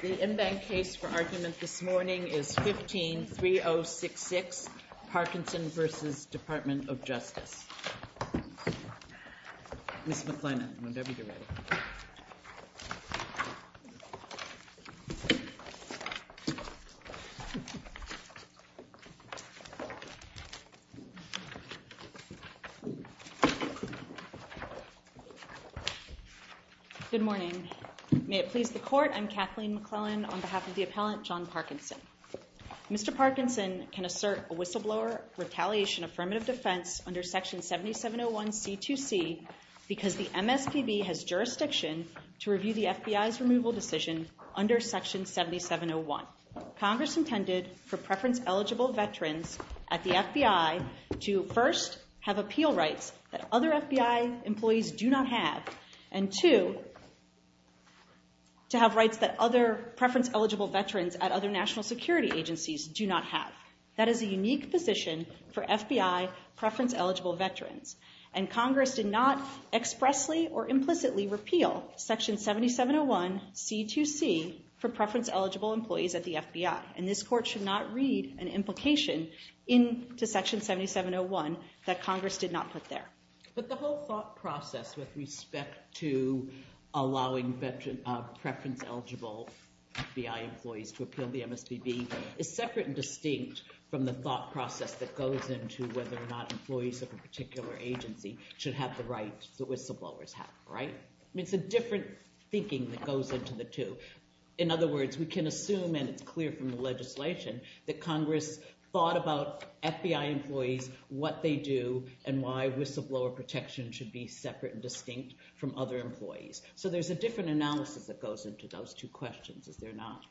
The in-bank case for argument this morning is 15-3066, Parkinson v. Department of Justice. Ms. McClennan, whenever you're ready. Ms. McClennan Good morning. May it please the court, I'm Kathleen McClennan on behalf of the appellant John Parkinson. Mr. Parkinson can assert a whistleblower retaliation affirmative defense under Section 7701C2C because the MSPB has jurisdiction to review the FBI's removal decision under Section 7701. Congress intended for preference-eligible veterans at the FBI to first have appeal rights that other FBI employees do not have, and two, to have rights that other preference-eligible veterans at other national security agencies do not have. That is a unique position for FBI preference-eligible veterans, and Congress did not expressly or implicitly repeal Section 7701C2C for preference-eligible employees at the FBI, and this court should not read an implication into Section 7701 that Congress did not put there. But the whole thought process with respect to allowing preference-eligible FBI employees to appeal the MSPB is separate and distinct from the thought process that goes into whether or not employees of a particular agency should have the right the whistleblowers have, right? I mean, it's a different thinking that goes into the two. In other words, we can assume, and it's clear from the legislation, that Congress thought about FBI employees, what they do, and why whistleblower protection should be separate and distinct from other employees. So there's a different analysis that goes into those two questions, is there not?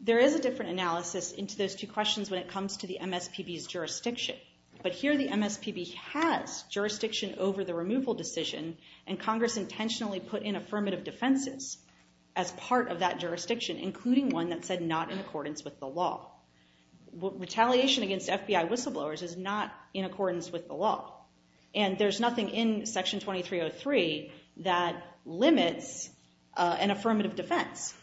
There is a different analysis into those two questions when it comes to the MSPB's jurisdiction, but here the MSPB has jurisdiction over the removal decision, and Congress intentionally put in affirmative defenses as part of that jurisdiction, including one that said not in accordance with the law. Retaliation against FBI whistleblowers is not in accordance with the law, and there's nothing in Section 2303 that limits an affirmative defense.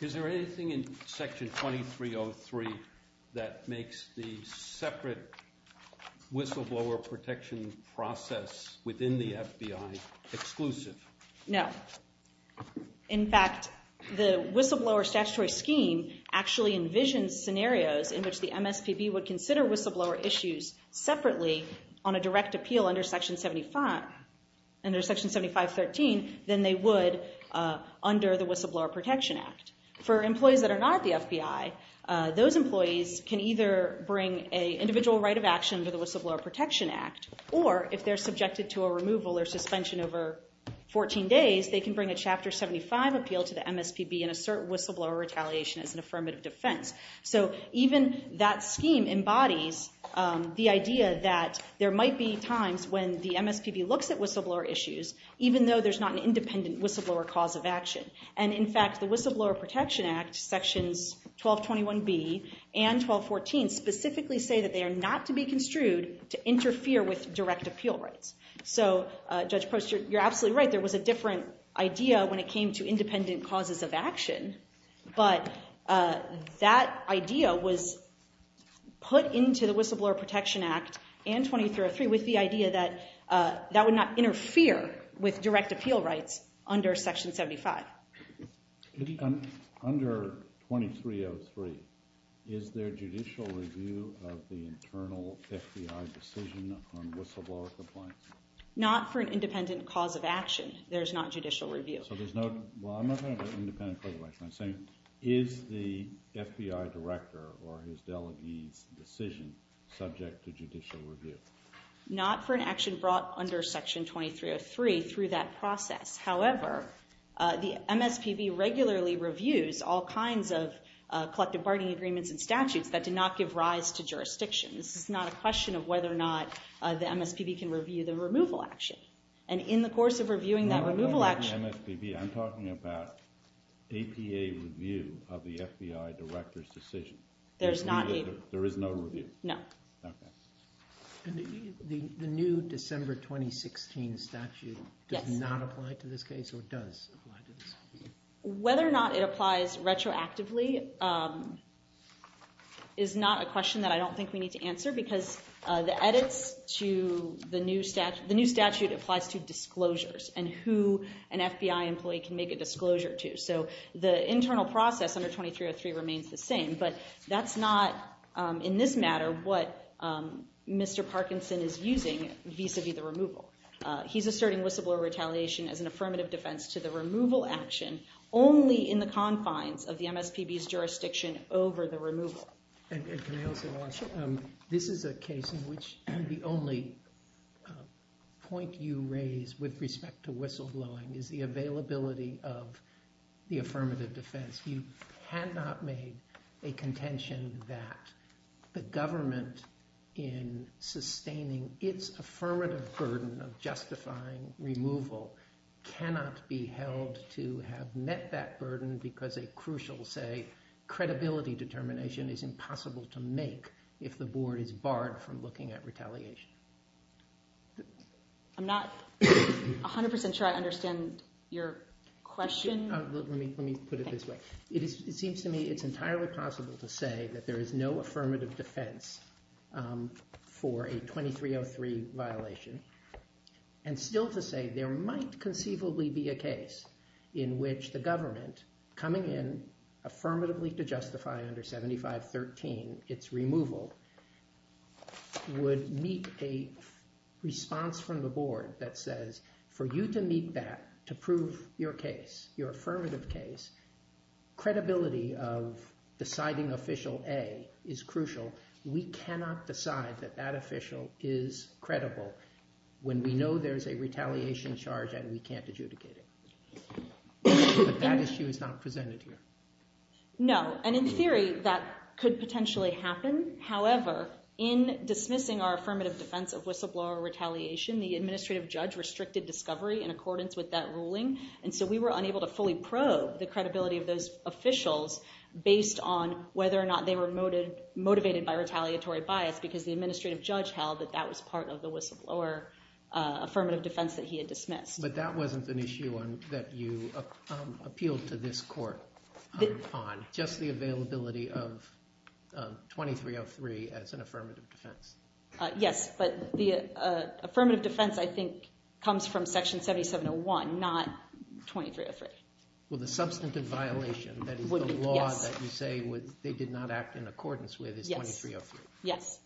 Is there anything in Section 2303 that makes the separate whistleblower protection process within the FBI exclusive? No. In fact, the whistleblower statutory scheme actually envisions scenarios in which the MSPB would consider whistleblower issues separately on a direct appeal under Section 7513 than they would under the Whistleblower Protection Act. For employees that are not at the FBI, those employees can either bring an individual right of action under the Whistleblower Protection Act, or if they're subjected to a removal or suspension over 14 days, they can bring a Chapter 75 appeal to the MSPB and assert whistleblower retaliation as an affirmative defense. So even that scheme embodies the idea that there might be times when the MSPB looks at whistleblower issues even though there's not an independent whistleblower cause of action. And in fact, the Whistleblower Protection Act, Sections 1221B and 1214 specifically say that they are not to be construed to interfere with direct appeal rights. So Judge Post, you're absolutely right. There was a different idea when it came to independent causes of action, but that idea was put into the Whistleblower Protection Act and 2303 with the idea that that would not interfere with direct appeal rights under Section 75. Under 2303, is there judicial review of the internal FBI decision on whistleblower compliance? Not for an independent cause of action. There's not judicial review. Well, I'm not talking about independent cause of action. I'm saying, is the FBI director or his delegate's decision subject to judicial review? Not for an action brought under Section 2303 through that process. However, the MSPB regularly reviews all kinds of collective bargaining agreements and statutes that did not give rise to jurisdiction. This is not a question of whether or not the MSPB can review the removal action. And in the course of reviewing that removal action- No, I'm not talking MSPB. I'm talking about APA review of the FBI director's decision. There's not APA- There is no review. No. The new December 2016 statute does not apply to this case or does apply to this case? Whether or not it applies retroactively is not a question that I don't think we need to answer because the edits to the new statute applies to disclosures and who an FBI employee can make a disclosure to. So the internal process under 2303 remains the same, but that's not, in this matter, what Mr. Parkinson is using vis-a-vis the removal. He's asserting whistleblower retaliation as an affirmative defense to the removal action only in the confines of the MSPB's jurisdiction over the removal. This is a case in which the only point you raise with respect to whistleblowing is the availability of the affirmative defense. You have not made a contention that the government, in sustaining its affirmative burden of justifying removal, cannot be held to have met that burden because a crucial, say, credibility determination is impossible to make if the board is barred from looking at retaliation. I'm not 100% sure I understand your question. Let me put it this way. It seems to me it's entirely possible to say that there is no affirmative defense for a 2303 violation and still to say there might conceivably be a case in which the government, coming in affirmatively to justify under 7513 its removal, would meet a response from the board that says, for you to meet that, to prove your case, your affirmative case, credibility of deciding Official A is crucial. We cannot decide that that official is credible when we know there's a retaliation charge and we can't adjudicate it. But that issue is not presented here. No. And in theory, that could potentially happen. However, in dismissing our affirmative defense of whistleblower retaliation, the administrative judge restricted discovery in accordance with that ruling. And so we were unable to fully probe the credibility of those officials based on whether or not they were motivated by retaliatory bias because the administrative judge held that that was part of the whistleblower affirmative defense that he had dismissed. But that wasn't an issue that you appealed to this court on, just the availability of 2303 as an affirmative defense. Yes, but the affirmative defense, I think, comes from Section 7701, not 2303. Well, the substantive violation, that is the law that you say they did not act in accordance with, is 2303. Yes.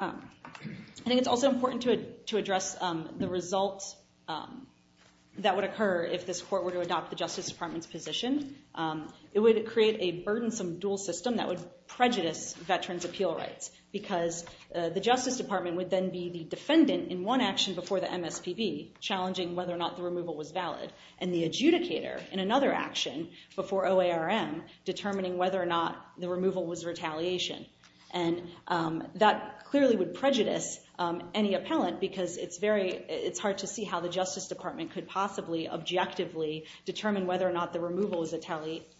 I think it's also important to address the results that would occur if this court were to adopt the Justice Department's position. It would create a burdensome dual system that would prejudice veterans' appeal rights because the Justice Department would then be the defendant in one action before the MSPB, challenging whether or not the removal was valid, and the adjudicator in another action before OARM, determining whether or not the removal was retaliation. And that clearly would prejudice any appellant because it's hard to see how the Justice Department could possibly objectively determine whether or not the removal was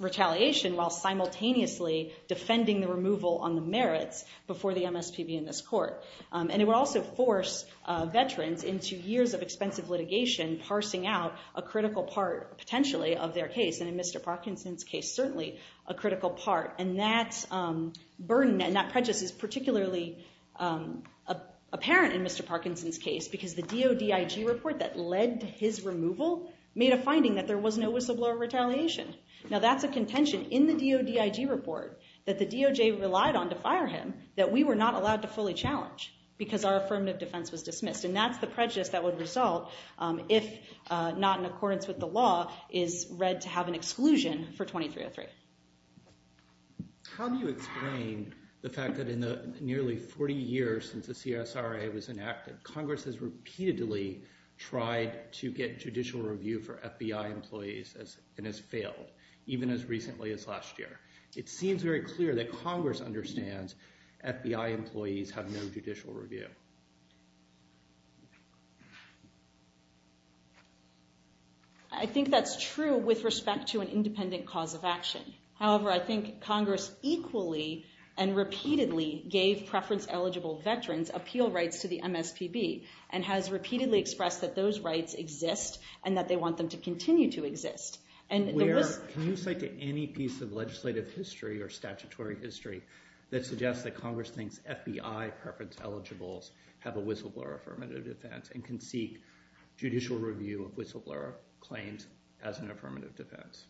retaliation while simultaneously defending the removal on the merits before the MSPB in this court. And it would also force veterans into years of expensive litigation, parsing out a critical part, potentially, of their case. And in Mr. Parkinson's case, certainly a critical part. And that burden and that prejudice is particularly apparent in Mr. Parkinson's case because the DOD IG report that led to his removal made a finding that there was no whistleblower retaliation. Now, that's a contention in the DOD IG report that the DOJ relied on to fire him that we were not allowed to fully challenge because our affirmative defense was dismissed. And that's the prejudice that would result if not in accordance with the law is read to have an exclusion for 2303. How do you explain the fact that in the nearly 40 years since the CSRA was enacted, Congress has repeatedly tried to get judicial review for FBI employees and has failed, even as recently as last year? It seems very clear that Congress understands FBI employees have no judicial review. I think that's true with respect to an independent cause of action. However, I think Congress equally and repeatedly gave preference-eligible veterans appeal rights to the MSPB and has repeatedly expressed that those rights exist and that they want them to continue to exist. Can you cite any piece of legislative history or statutory history that suggests that Congress thinks FBI preference-eligibles have a whistleblower affirmative defense and can seek judicial review of whistleblower claims as an affirmative defense?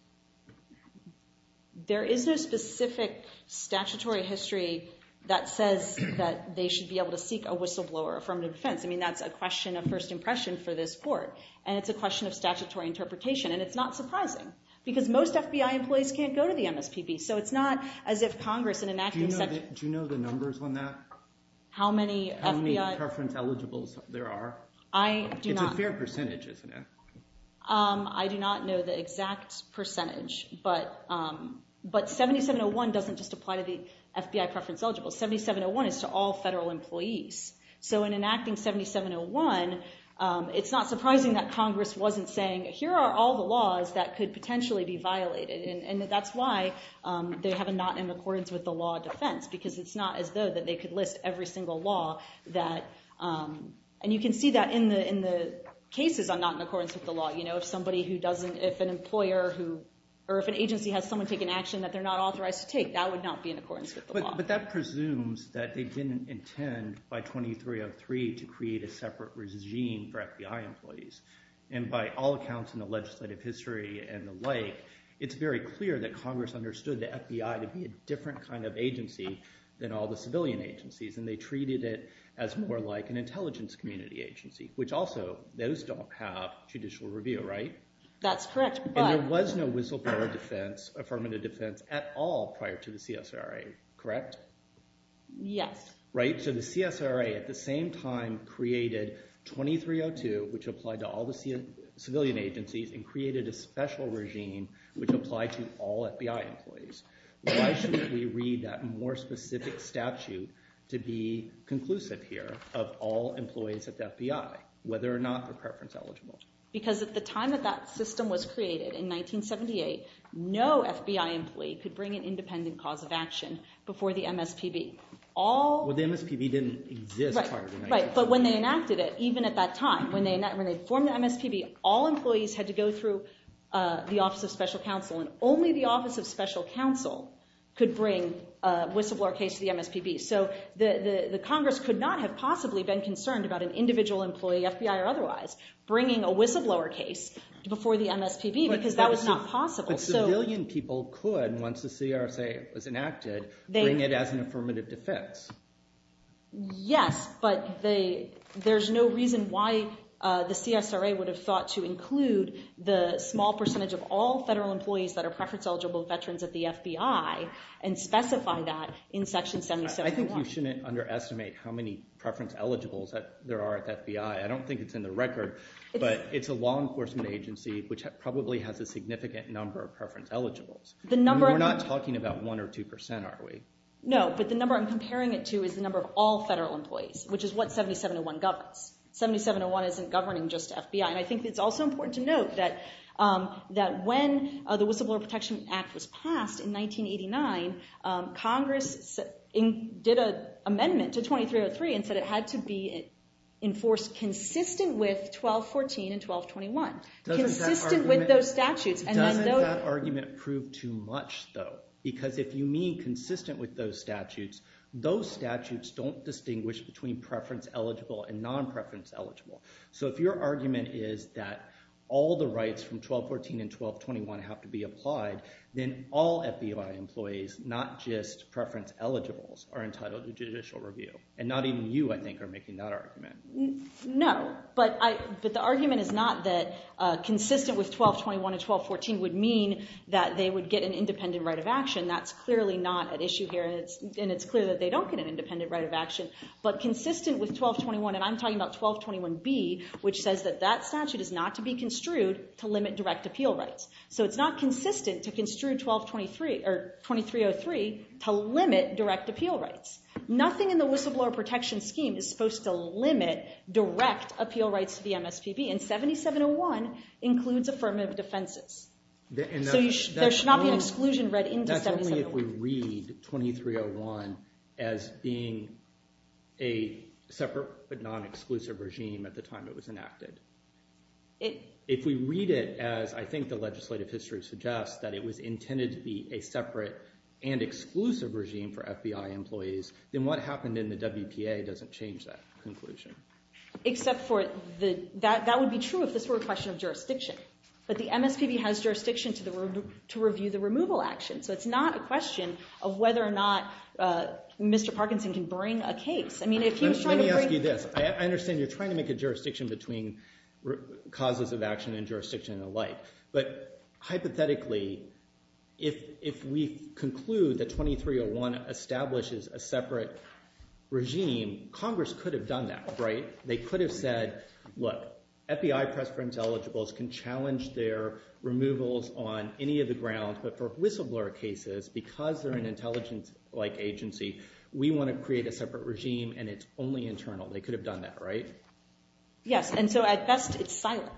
There is no specific statutory history that says that they should be able to seek a whistleblower affirmative defense. I mean, that's a question of first impression for this court. And it's a question of statutory interpretation. And it's not surprising because most FBI employees can't go to the MSPB. So it's not as if Congress in enacting such… Do you know the numbers on that? How many FBI… How many preference-eligibles there are? I do not… It's a fair percentage, isn't it? I do not know the exact percentage. But 7701 doesn't just apply to the FBI preference-eligible. 7701 is to all federal employees. So in enacting 7701, it's not surprising that Congress wasn't saying, here are all the laws that could potentially be violated. And that's why they have a not in accordance with the law defense because it's not as though that they could list every single law that… And you can see that in the cases on not in accordance with the law. If somebody who doesn't… If an employer who… Or if an agency has someone take an action that they're not authorized to take, that would not be in accordance with the law. But that presumes that they didn't intend by 2303 to create a separate regime for FBI employees. And by all accounts in the legislative history and the like, it's very clear that Congress understood the FBI to be a different kind of agency than all the civilian agencies. And they treated it as more like an intelligence community agency, which also those don't have judicial review, right? That's correct, but… There was no whistleblower defense, affirmative defense, at all prior to the CSRA, correct? Yes. Right, so the CSRA at the same time created 2302, which applied to all the civilian agencies, and created a special regime which applied to all FBI employees. Why shouldn't we read that more specific statute to be conclusive here of all employees at the FBI, whether or not they're preference eligible? Because at the time that that system was created in 1978, no FBI employee could bring an independent cause of action before the MSPB. Well, the MSPB didn't exist prior to 1978. Right, but when they enacted it, even at that time, when they formed the MSPB, all employees had to go through the Office of Special Counsel, and only the Office of Special Counsel could bring a whistleblower case to the MSPB. So the Congress could not have possibly been concerned about an individual employee, FBI or otherwise, bringing a whistleblower case before the MSPB, because that was not possible. But civilian people could, once the CRSA was enacted, bring it as an affirmative defense. Yes, but there's no reason why the CSRA would have thought to include the small percentage of all federal employees that are preference eligible veterans at the FBI, and specify that in Section 7701. I think you shouldn't underestimate how many preference eligibles there are at the FBI. I don't think it's in the record, but it's a law enforcement agency, which probably has a significant number of preference eligibles. We're not talking about 1% or 2%, are we? No, but the number I'm comparing it to is the number of all federal employees, which is what 7701 governs. 7701 isn't governing just FBI. And I think it's also important to note that when the Whistleblower Protection Act was passed in 1989, Congress did an amendment to 2303 and said it had to be enforced consistent with 1214 and 1221, consistent with those statutes. Doesn't that argument prove too much, though? Because if you mean consistent with those statutes, those statutes don't distinguish between preference eligible and non-preference eligible. So if your argument is that all the rights from 1214 and 1221 have to be applied, then all FBI employees, not just preference eligibles, are entitled to judicial review. And not even you, I think, are making that argument. No, but the argument is not that consistent with 1221 and 1214 would mean that they would get an independent right of action. That's clearly not at issue here, and it's clear that they don't get an independent right of action. But consistent with 1221, and I'm talking about 1221B, which says that that statute is not to be construed to limit direct appeal rights. So it's not consistent to construe 2303 to limit direct appeal rights. Nothing in the whistleblower protection scheme is supposed to limit direct appeal rights to the MSPB, and 7701 includes affirmative defenses. So there should not be an exclusion read into 7701. That's only if we read 2301 as being a separate but non-exclusive regime at the time it was enacted. If we read it as, I think the legislative history suggests, that it was intended to be a separate and exclusive regime for FBI employees, then what happened in the WPA doesn't change that conclusion. Except for that would be true if this were a question of jurisdiction. But the MSPB has jurisdiction to review the removal action, so it's not a question of whether or not Mr. Parkinson can bring a case. Let me ask you this. I understand you're trying to make a jurisdiction between causes of action and jurisdiction and the like. But hypothetically, if we conclude that 2301 establishes a separate regime, Congress could have done that, right? They could have said, look, FBI press firms eligibles can challenge their removals on any of the grounds, but for whistleblower cases, because they're an intelligence-like agency, we want to create a separate regime and it's only internal. They could have done that, right? Yes, and so at best it's silent,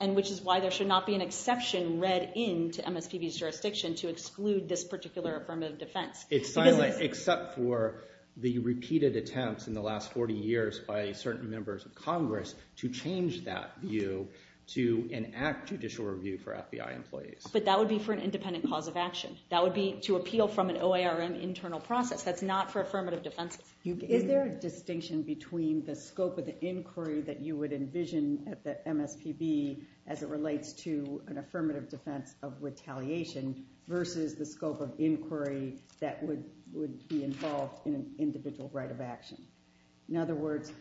which is why there should not be an exception read into MSPB's jurisdiction to exclude this particular affirmative defense. It's silent except for the repeated attempts in the last 40 years by certain members of Congress to change that view to enact judicial review for FBI employees. But that would be for an independent cause of action. That would be to appeal from an OARM internal process. That's not for affirmative defense. Is there a distinction between the scope of the inquiry that you would envision at the MSPB as it relates to an affirmative defense of retaliation versus the scope of inquiry that would be involved in an individual right of action? In other words,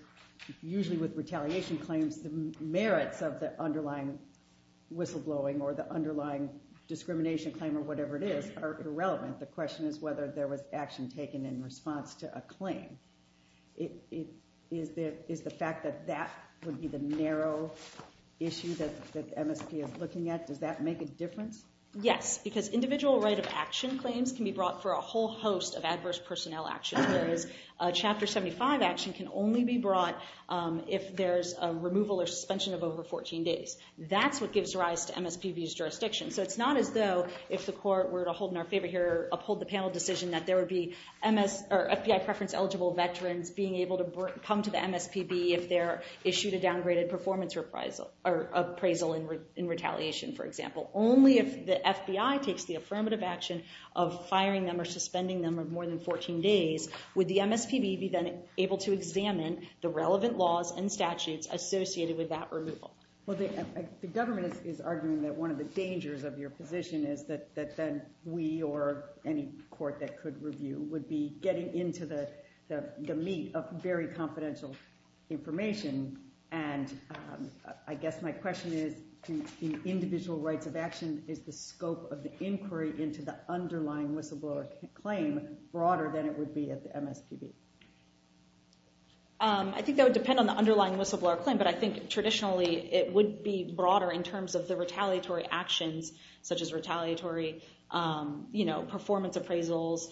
usually with retaliation claims, the merits of the underlying whistleblowing or the underlying discrimination claim or whatever it is are irrelevant. The question is whether there was action taken in response to a claim. Is the fact that that would be the narrow issue that MSPB is looking at, does that make a difference? Yes, because individual right of action claims can be brought for a whole host of adverse personnel actions. Whereas a Chapter 75 action can only be brought if there's a removal or suspension of over 14 days. That's what gives rise to MSPB's jurisdiction. So it's not as though if the court were to uphold the panel decision that there would be FBI preference eligible veterans being able to come to the MSPB if they're issued a downgraded performance appraisal in retaliation, for example. Only if the FBI takes the affirmative action of firing them or suspending them of more than 14 days would the MSPB be then able to examine the relevant laws and statutes associated with that removal. Well, the government is arguing that one of the dangers of your position is that then we or any court that could review would be getting into the meat of very confidential information. And I guess my question is, in individual rights of action, is the scope of the inquiry into the underlying whistleblower claim broader than it would be at the MSPB? I think that would depend on the underlying whistleblower claim. But I think traditionally, it would be broader in terms of the retaliatory actions, such as retaliatory performance appraisals,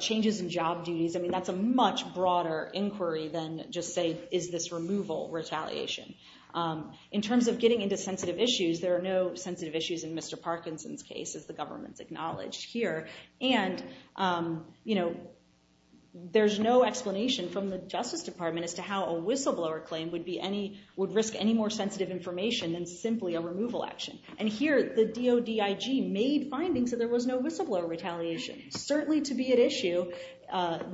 changes in job duties. I mean, that's a much broader inquiry than just say, is this removal retaliation? In terms of getting into sensitive issues, there are no sensitive issues in Mr. Parkinson's case, as the government's acknowledged here. And there's no explanation from the Justice Department as to how a whistleblower claim would risk any more sensitive information than simply a removal action. And here, the DOD IG made findings that there was no whistleblower retaliation. Certainly to be at issue,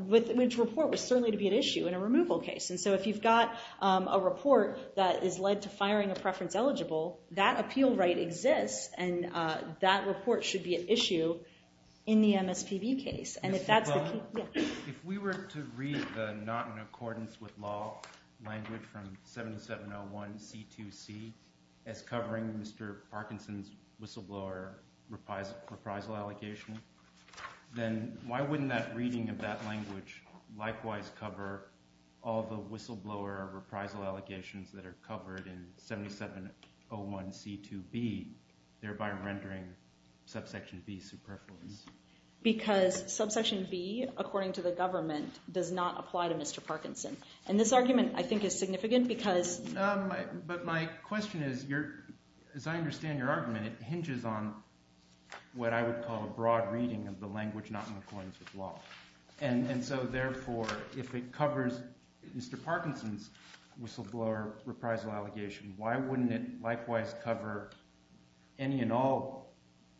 which report was certainly to be at issue in a removal case. And so if you've got a report that is led to firing a preference eligible, that appeal right exists. And that report should be at issue in the MSPB case. If we were to read the not in accordance with law language from 7701C2C as covering Mr. Parkinson's whistleblower reprisal allegation, then why wouldn't that reading of that language likewise cover all the whistleblower reprisal allegations that are covered in 7701C2B, thereby rendering subsection B superfluous? Because subsection B, according to the government, does not apply to Mr. Parkinson. And this argument, I think, is significant because... But my question is, as I understand your argument, it hinges on what I would call a broad reading of the language not in accordance with law. And so therefore, if it covers Mr. Parkinson's whistleblower reprisal allegation, why wouldn't it likewise cover any and all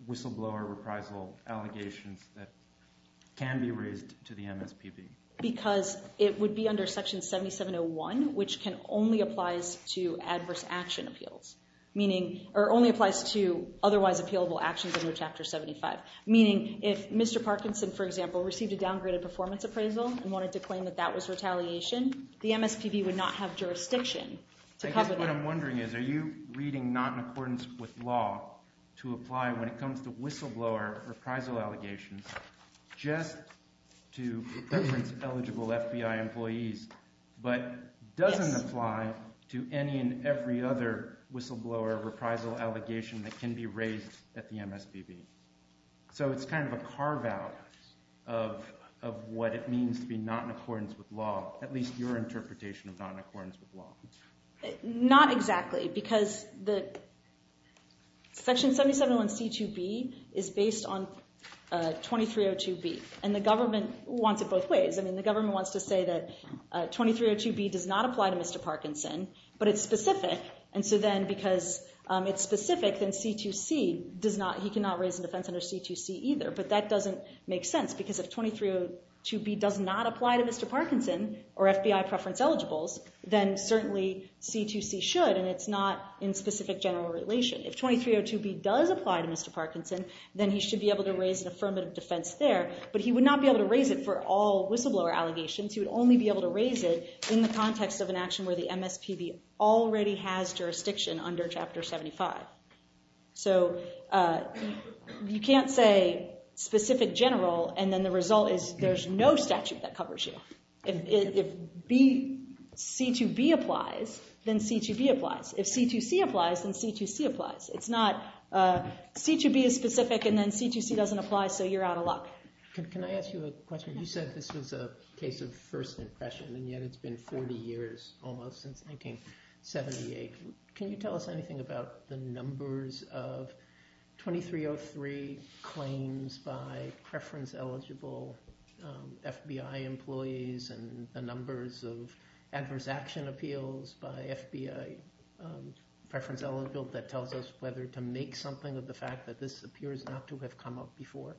whistleblower reprisal allegations that can be raised to the MSPB? Because it would be under Section 7701, which can only applies to adverse action appeals. Meaning, or only applies to otherwise appealable actions under Chapter 75. Meaning, if Mr. Parkinson, for example, received a downgraded performance appraisal and wanted to claim that that was retaliation, the MSPB would not have jurisdiction to cover that. I guess what I'm wondering is, are you reading not in accordance with law to apply when it comes to whistleblower reprisal allegations just to preference eligible FBI employees, but doesn't apply to any and every other whistleblower reprisal allegation that can be raised at the MSPB? So it's kind of a carve-out of what it means to be not in accordance with law. At least your interpretation of not in accordance with law. Not exactly, because Section 7701C2B is based on 2302B. And the government wants it both ways. I mean, the government wants to say that 2302B does not apply to Mr. Parkinson, but it's specific. And so then, because it's specific, then C2C does not, he cannot raise in defense under C2C either. But that doesn't make sense, because if 2302B does not apply to Mr. Parkinson or FBI preference eligibles, then certainly C2C should, and it's not in specific general relation. If 2302B does apply to Mr. Parkinson, then he should be able to raise an affirmative defense there. But he would not be able to raise it for all whistleblower allegations. He would only be able to raise it in the context of an action where the MSPB already has jurisdiction under Chapter 75. So you can't say specific general, and then the result is there's no statute that covers you. If C2B applies, then C2B applies. If C2C applies, then C2C applies. It's not C2B is specific, and then C2C doesn't apply, so you're out of luck. Can I ask you a question? You said this was a case of first impression, and yet it's been 40 years, almost, since 1978. Can you tell us anything about the numbers of 2303 claims by preference eligible FBI employees and the numbers of adverse action appeals by FBI preference eligible that tells us whether to make something of the fact that this appears not to have come up before?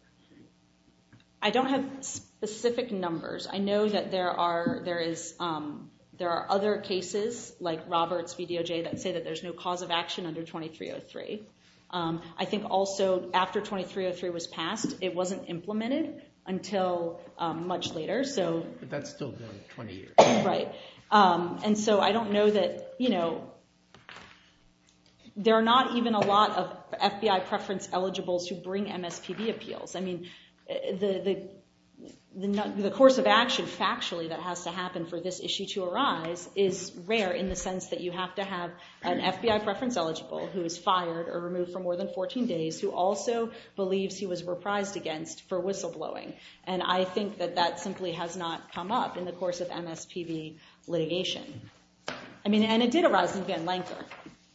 I don't have specific numbers. I know that there are other cases, like Roberts v. DOJ, that say that there's no cause of action under 2303. I think also after 2303 was passed, it wasn't implemented until much later. But that's still 20 years. Right. And so I don't know that, you know, there are not even a lot of FBI preference eligibles who bring MSPB appeals. I mean, the course of action, factually, that has to happen for this issue to arise is rare in the sense that you have to have an FBI preference eligible who is fired or removed for more than 14 days who also believes he was reprised against for whistleblowing. And I think that that simply has not come up in the course of MSPB litigation. I mean, and it did arise in Van Lanker.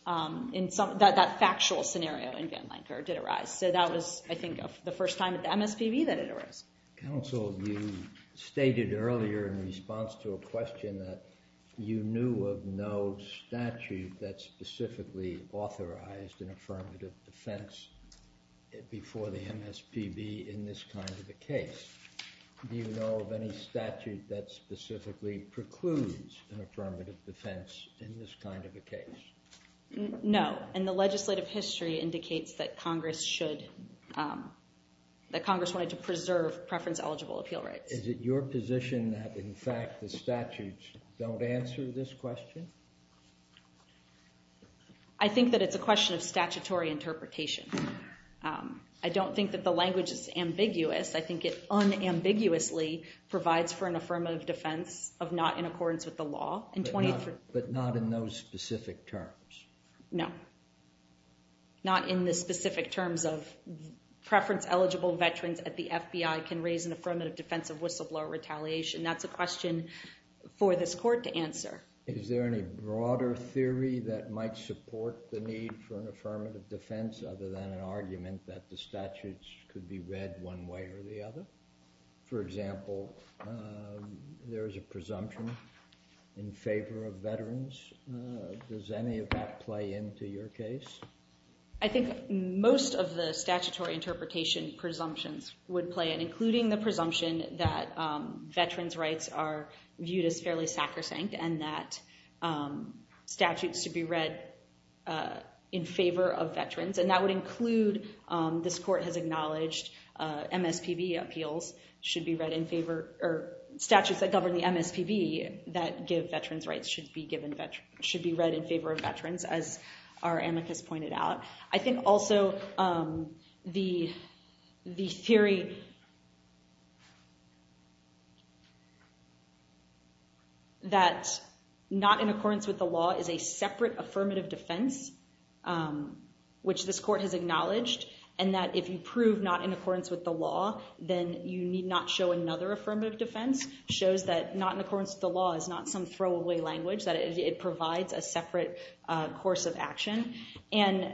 That factual scenario in Van Lanker did arise. So that was, I think, the first time at the MSPB that it arose. Counsel, you stated earlier in response to a question that you knew of no statute that specifically authorized an affirmative defense before the MSPB in this kind of a case. Do you know of any statute that specifically precludes an affirmative defense in this kind of a case? No, and the legislative history indicates that Congress should, that Congress wanted to preserve preference eligible appeal rights. Is it your position that, in fact, the statutes don't answer this question? I think that it's a question of statutory interpretation. I don't think that the language is ambiguous. I think it unambiguously provides for an affirmative defense of not in accordance with the law. But not in those specific terms? No, not in the specific terms of preference eligible veterans at the FBI can raise an affirmative defense of whistleblower retaliation. That's a question for this court to answer. Is there any broader theory that might support the need for an affirmative defense other than an argument that the statutes could be read one way or the other? For example, there is a presumption in favor of veterans. Does any of that play into your case? I think most of the statutory interpretation presumptions would play in, including the presumption that veterans' rights are viewed as fairly sacrosanct and that statutes should be read in favor of veterans. And that would include, this court has acknowledged, MSPB appeals should be read in favor or statutes that govern the MSPB that give veterans' rights should be read in favor of veterans, as our amicus pointed out. I think also the theory that not in accordance with the law is a separate affirmative defense, which this court has acknowledged, and that if you prove not in accordance with the law, then you need not show another affirmative defense, shows that not in accordance with the law is not some throwaway language, that it provides a separate course of action. And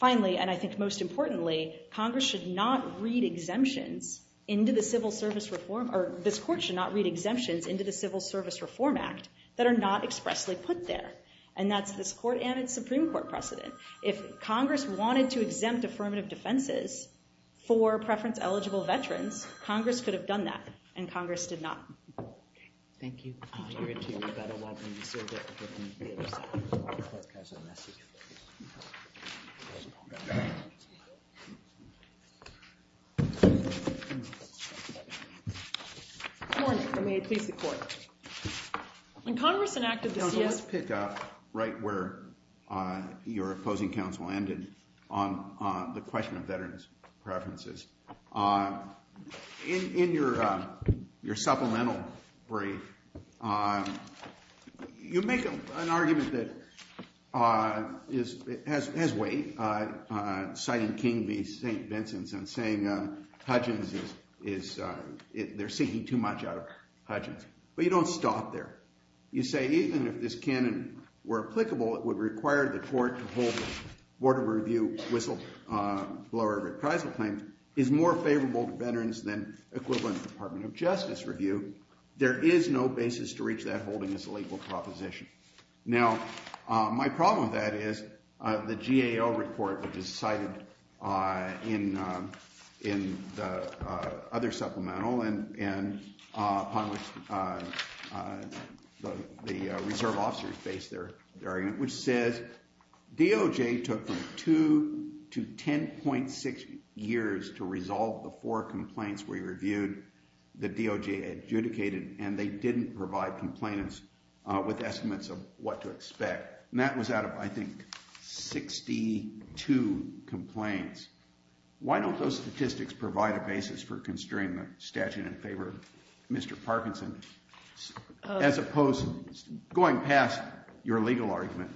finally, and I think most importantly, Congress should not read exemptions into the Civil Service Reform, or this court should not read exemptions into the Civil Service Reform Act that are not expressly put there. And that's this court and its Supreme Court precedent. If Congress wanted to exempt affirmative defenses for preference-eligible veterans, Congress could have done that, and Congress did not. Thank you. Let's pick up right where your opposing counsel ended on the question of veterans' preferences. In your supplemental brief, you make an argument that has weight, citing King v. St. Vincent and saying they're seeking too much out of Hudgins. But you don't stop there. You say even if this canon were applicable, it would require the court to hold the Board of Review whistleblower reprisal claim is more favorable to veterans than equivalent Department of Justice review. There is no basis to reach that holding as a legal proposition. Now, my problem with that is the GAO report, which is cited in the other supplemental and upon which the reserve officers base their argument, which says DOJ took from 2 to 10.6 years to resolve the four complaints we reviewed that DOJ adjudicated, and they didn't provide complainants with estimates of what to expect. And that was out of, I think, 62 complaints. Why don't those statistics provide a basis for constraining the statute in favor of Mr. Parkinson as opposed to going past your legal argument?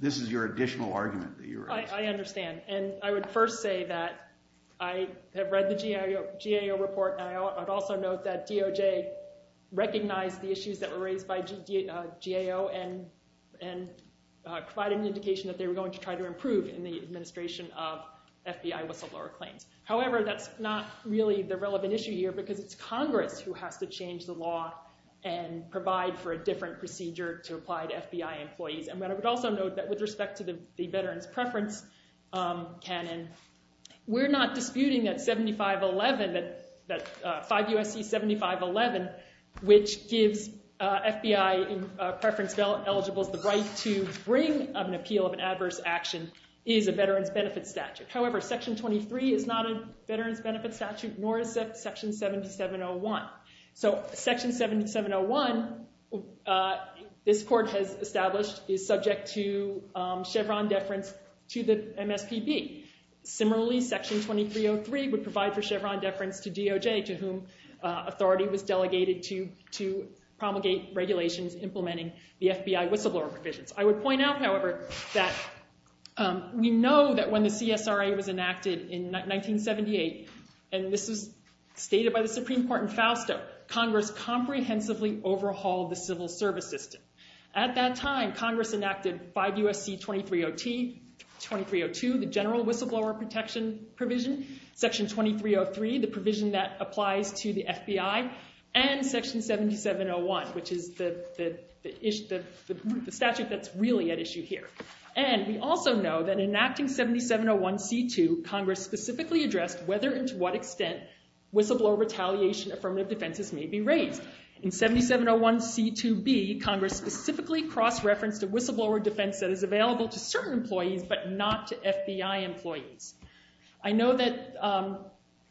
This is your additional argument that you're asking. I understand, and I would first say that I have read the GAO report, and I would also note that DOJ recognized the issues that were raised by GAO and provided an indication that they were going to try to improve in the administration of FBI whistleblower claims. However, that's not really the relevant issue here because it's Congress who has to change the law and provide for a different procedure to apply to FBI employees. And I would also note that with respect to the veterans' preference canon, we're not disputing that 7511, that 5 U.S.C. 7511, which gives FBI preference eligibles the right to bring an appeal of an adverse action, is a veterans' benefit statute. However, Section 23 is not a veterans' benefit statute, nor is Section 7701. So Section 7701, this court has established, is subject to Chevron deference to the MSPB. Similarly, Section 2303 would provide for Chevron deference to DOJ, to whom authority was delegated to promulgate regulations implementing the FBI whistleblower provisions. I would point out, however, that we know that when the CSRA was enacted in 1978, and this is stated by the Supreme Court in Fausto, Congress comprehensively overhauled the civil service system. At that time, Congress enacted 5 U.S.C. 2302, the general whistleblower protection provision, Section 2303, the provision that applies to the FBI, and Section 7701, which is the statute that's really at issue here. And we also know that in enacting 7701C2, Congress specifically addressed whether and to what extent whistleblower retaliation affirmative defenses may be raised. In 7701C2B, Congress specifically cross-referenced a whistleblower defense that is available to certain employees, but not to FBI employees. I know that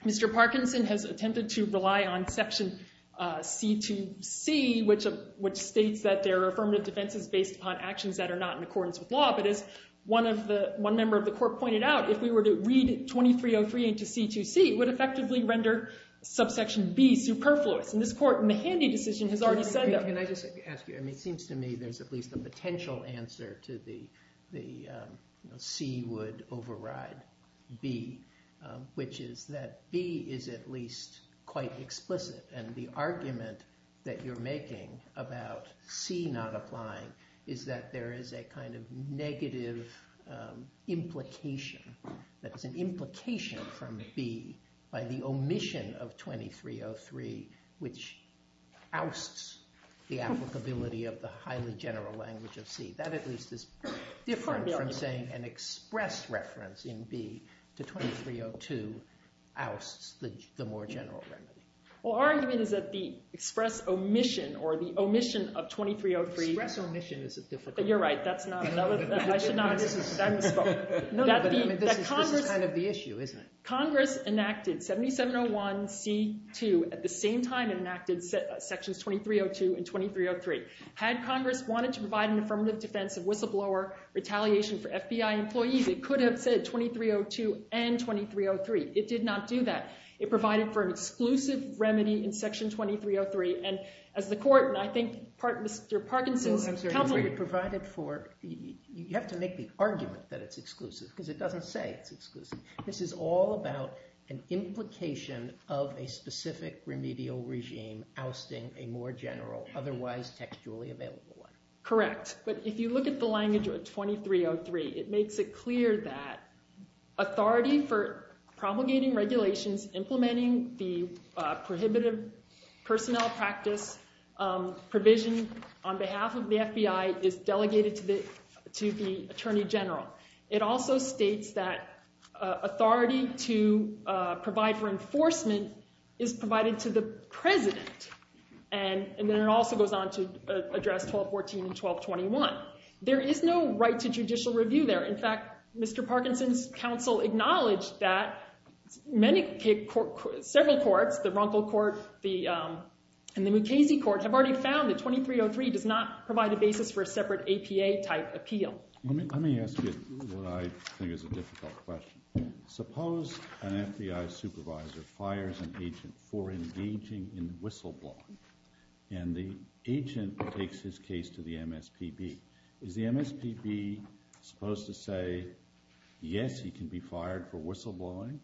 Mr. Parkinson has attempted to rely on Section C2C, which states that there are affirmative defenses based upon actions that are not in accordance with law, but as one member of the Court pointed out, if we were to read 2303 into C2C, it would effectively render Subsection B superfluous. And this Court in the Handy decision has already said that. Can I just ask you, it seems to me there's at least a potential answer to the C would override B, which is that B is at least quite explicit. And the argument that you're making about C not applying is that there is a kind of negative implication, that it's an implication from B by the omission of 2303, which ousts the applicability of the highly general language of C. That at least is different from saying an express reference in B to 2302 ousts the more general remedy. Well, our argument is that the express omission or the omission of 2303— Express omission is a difficult— You're right. That's not—I should not have— This is kind of the issue, isn't it? Congress enacted 7701C2 at the same time it enacted Sections 2302 and 2303. Had Congress wanted to provide an affirmative defense of whistleblower retaliation for FBI employees, it could have said 2302 and 2303. It did not do that. It provided for an exclusive remedy in Section 2303. And as the Court, and I think Mr. Parkinson's— I'm sorry. I'm sorry. You have to make the argument that it's exclusive because it doesn't say it's exclusive. This is all about an implication of a specific remedial regime ousting a more general, otherwise textually available one. Correct. But if you look at the language of 2303, it makes it clear that authority for propagating regulations, implementing the prohibitive personnel practice provision on behalf of the FBI is delegated to the Attorney General. It also states that authority to provide for enforcement is provided to the President. And then it also goes on to address 1214 and 1221. There is no right to judicial review there. In fact, Mr. Parkinson's counsel acknowledged that several courts, the Runkle Court and the Mukasey Court, have already found that 2303 does not provide a basis for a separate APA-type appeal. Let me ask you what I think is a difficult question. Suppose an FBI supervisor fires an agent for engaging in whistleblowing, and the agent takes his case to the MSPB. Is the MSPB supposed to say, yes, he can be fired for whistleblowing?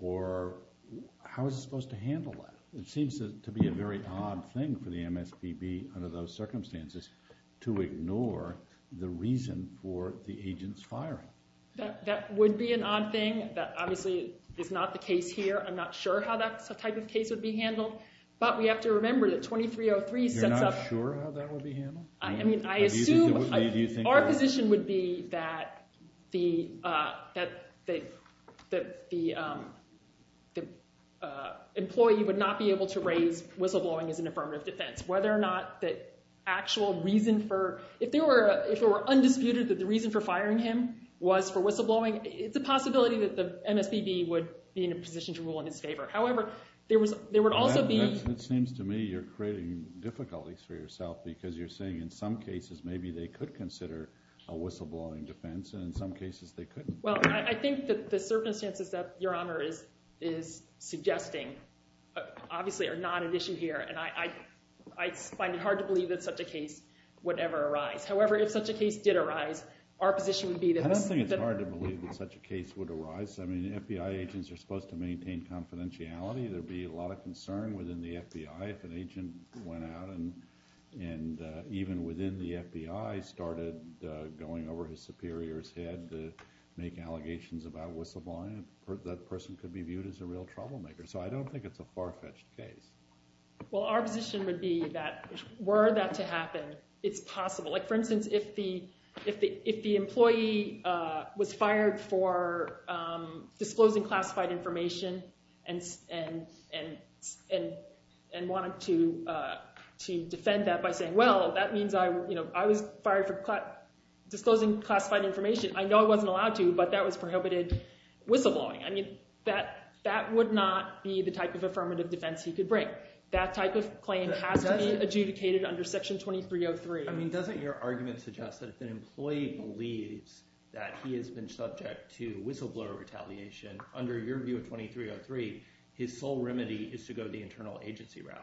Or how is it supposed to handle that? It seems to be a very odd thing for the MSPB under those circumstances to ignore the reason for the agent's firing. That would be an odd thing. That obviously is not the case here. I'm not sure how that type of case would be handled, but we have to remember that 2303 sets up – You're not sure how that would be handled? I assume our position would be that the employee would not be able to raise whistleblowing as an affirmative defense. Whether or not the actual reason for – if it were undisputed that the reason for firing him was for whistleblowing, it's a possibility that the MSPB would be in a position to rule in his favor. However, there would also be – It seems to me you're creating difficulties for yourself because you're saying in some cases maybe they could consider a whistleblowing defense, and in some cases they couldn't. Well, I think that the circumstances that Your Honor is suggesting obviously are not an issue here, and I find it hard to believe that such a case would ever arise. However, if such a case did arise, our position would be that – I don't think it's hard to believe that such a case would arise. I mean, FBI agents are supposed to maintain confidentiality. There would be a lot of concern within the FBI if an agent went out and even within the FBI started going over his superior's head to make allegations about whistleblowing. That person could be viewed as a real troublemaker. So I don't think it's a far-fetched case. Well, our position would be that were that to happen, it's possible. Like, for instance, if the employee was fired for disclosing classified information and wanted to defend that by saying, well, that means I was fired for disclosing classified information. I know I wasn't allowed to, but that was prohibited whistleblowing. I mean that would not be the type of affirmative defense he could bring. That type of claim has to be adjudicated under Section 2303. I mean, doesn't your argument suggest that if an employee believes that he has been subject to whistleblower retaliation, under your view of 2303, his sole remedy is to go the internal agency route?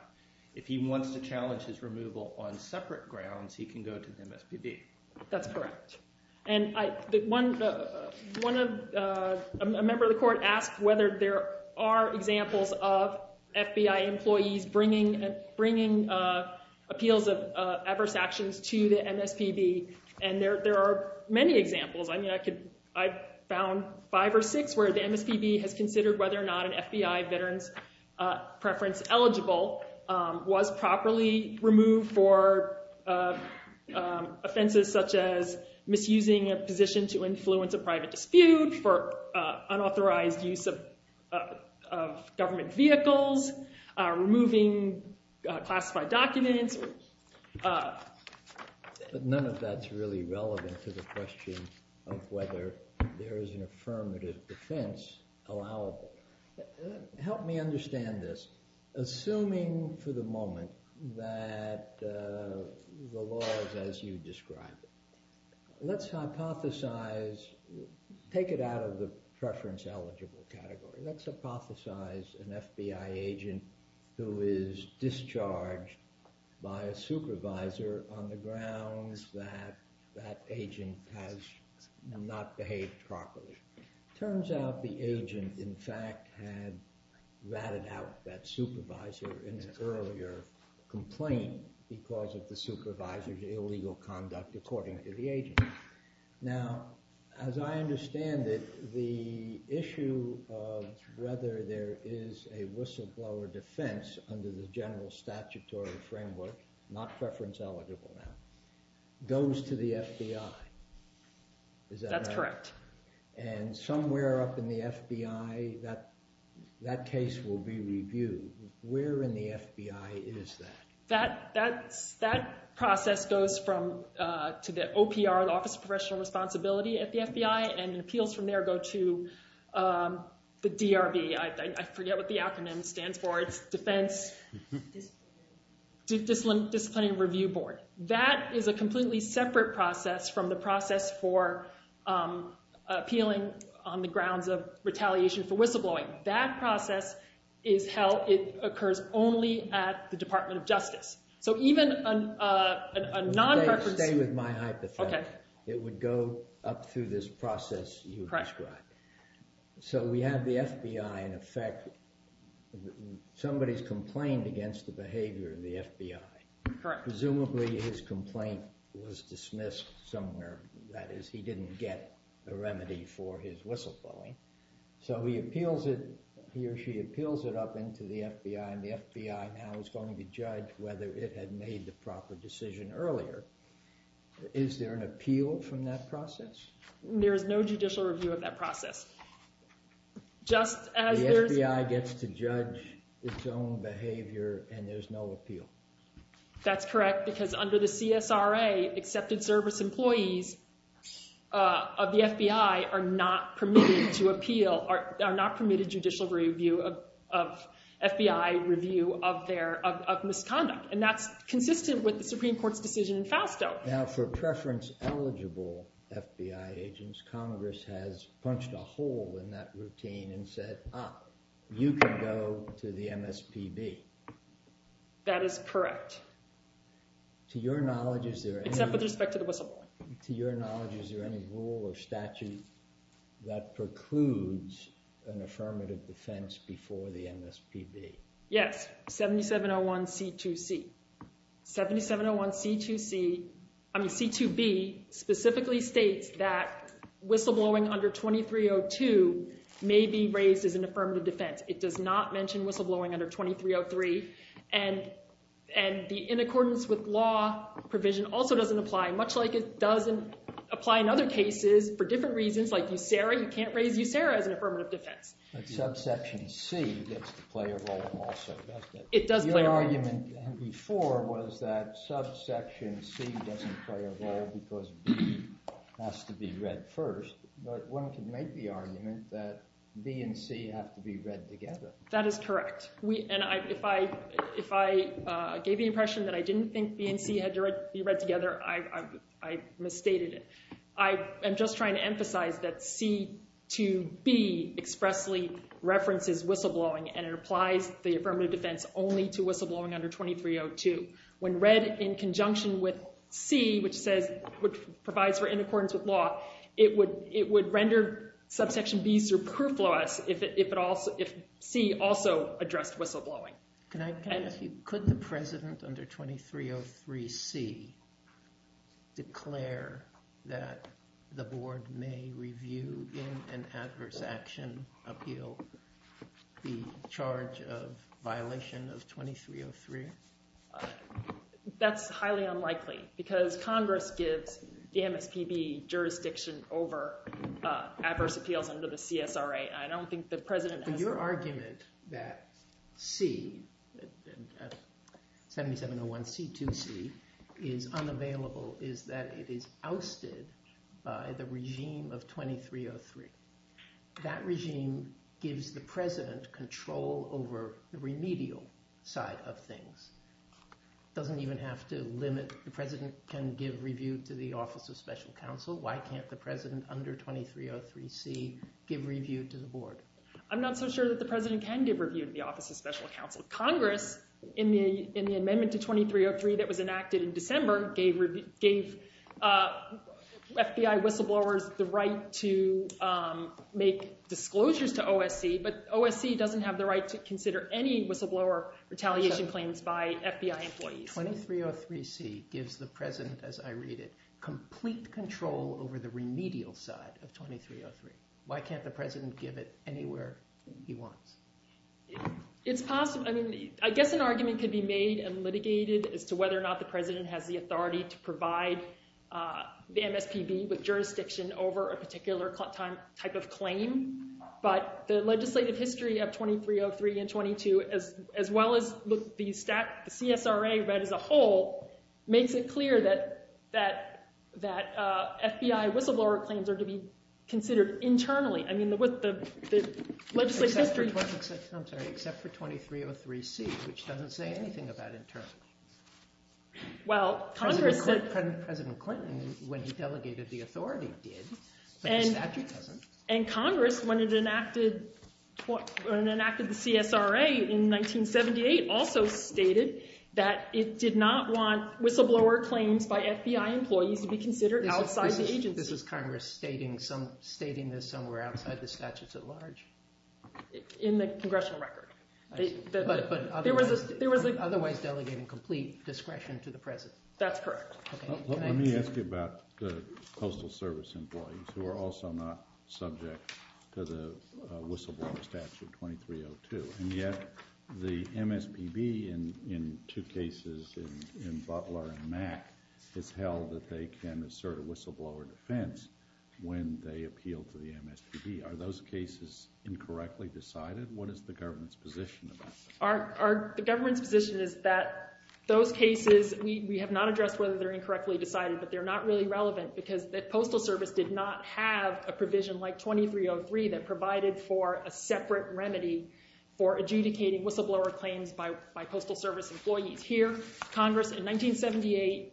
If he wants to challenge his removal on separate grounds, he can go to the MSPB. That's correct. And a member of the court asked whether there are examples of FBI employees bringing appeals of adverse actions to the MSPB. And there are many examples. I mean, I found five or six where the MSPB has considered whether or not an FBI veteran's preference eligible was properly removed for offenses such as misusing a position to influence a private dispute, for unauthorized use of government vehicles, removing classified documents. But none of that's really relevant to the question of whether there is an affirmative defense allowable. Help me understand this. Assuming for the moment that the law is as you describe it, let's hypothesize, take it out of the preference eligible category. Let's hypothesize an FBI agent who is discharged by a supervisor on the grounds that that agent has not behaved properly. Turns out the agent, in fact, had ratted out that supervisor in an earlier complaint because of the supervisor's illegal conduct according to the agent. Now, as I understand it, the issue of whether there is a whistleblower defense under the general statutory framework, not preference eligible now, goes to the FBI. Is that right? Correct. And somewhere up in the FBI, that case will be reviewed. Where in the FBI is that? That process goes to the OPR, the Office of Professional Responsibility at the FBI, and appeals from there go to the DRB. I forget what the acronym stands for. It's Defense Disciplinary Review Board. That is a completely separate process from the process for appealing on the grounds of retaliation for whistleblowing. That process occurs only at the Department of Justice. So even a non-preference… Stay with my hypothesis. Okay. It would go up through this process you described. So we have the FBI in effect. Somebody's complained against the behavior of the FBI. Correct. Presumably his complaint was dismissed somewhere. That is, he didn't get a remedy for his whistleblowing. So he appeals it, he or she appeals it up into the FBI, and the FBI now is going to judge whether it had made the proper decision earlier. Is there an appeal from that process? There is no judicial review of that process. The FBI gets to judge its own behavior, and there's no appeal. That's correct, because under the CSRA, accepted service employees of the FBI are not permitted to appeal, are not permitted judicial review of FBI review of their misconduct. And that's consistent with the Supreme Court's decision in FASTO. Now, for preference-eligible FBI agents, Congress has punched a hole in that routine and said, ah, you can go to the MSPB. That is correct. To your knowledge, is there any— Except with respect to the whistleblowing. To your knowledge, is there any rule or statute that precludes an affirmative defense before the MSPB? Yes, 7701C2C. 7701C2C—I mean, C2B specifically states that whistleblowing under 2302 may be raised as an affirmative defense. It does not mention whistleblowing under 2303. And the in accordance with law provision also doesn't apply, much like it doesn't apply in other cases for different reasons, like USERA, you can't raise USERA as an affirmative defense. But subsection C gets to play a role also, doesn't it? It does play a role. Your argument before was that subsection C doesn't play a role because B has to be read first. But one can make the argument that B and C have to be read together. That is correct. And if I gave the impression that I didn't think B and C had to be read together, I misstated it. I am just trying to emphasize that C2B expressly references whistleblowing, and it applies the affirmative defense only to whistleblowing under 2302. When read in conjunction with C, which provides for in accordance with law, it would render subsection B superfluous if C also addressed whistleblowing. Could the president under 2303C declare that the board may review in an adverse action appeal the charge of violation of 2303? That's highly unlikely because Congress gives the MSPB jurisdiction over adverse appeals under the CSRA. Your argument that C, 7701C2C, is unavailable is that it is ousted by the regime of 2303. That regime gives the president control over the remedial side of things. It doesn't even have to limit – the president can give review to the Office of Special Counsel. Why can't the president under 2303C give review to the board? I'm not so sure that the president can give review to the Office of Special Counsel. Congress, in the amendment to 2303 that was enacted in December, gave FBI whistleblowers the right to make disclosures to OSC, but OSC doesn't have the right to consider any whistleblower retaliation claims by FBI employees. 2303C gives the president, as I read it, complete control over the remedial side of 2303. Why can't the president give it anywhere he wants? It's possible. I mean, I guess an argument could be made and litigated as to whether or not the president has the authority to provide the MSPB with jurisdiction over a particular type of claim, but the legislative history of 2303 and 2202, as well as the CSRA read as a whole, makes it clear that FBI whistleblower claims are to be considered internally. I mean, the legislative history – Except for 2303C, which doesn't say anything about internally. Well, Congress – President Clinton, when he delegated the authority, did, but the statute doesn't. And Congress, when it enacted the CSRA in 1978, also stated that it did not want whistleblower claims by FBI employees to be considered outside the agency. This is Congress stating this somewhere outside the statutes at large. In the congressional record. But otherwise delegating complete discretion to the president. That's correct. Let me ask you about the Postal Service employees, who are also not subject to the whistleblower statute 2302. And yet, the MSPB, in two cases, in Butler and Mack, has held that they can assert a whistleblower defense when they appeal to the MSPB. Are those cases incorrectly decided? What is the government's position about that? The government's position is that those cases, we have not addressed whether they're incorrectly decided, but they're not really relevant because the Postal Service did not have a provision like 2303 that provided for a separate remedy for adjudicating whistleblower claims by Postal Service employees. Here, Congress, in 1978,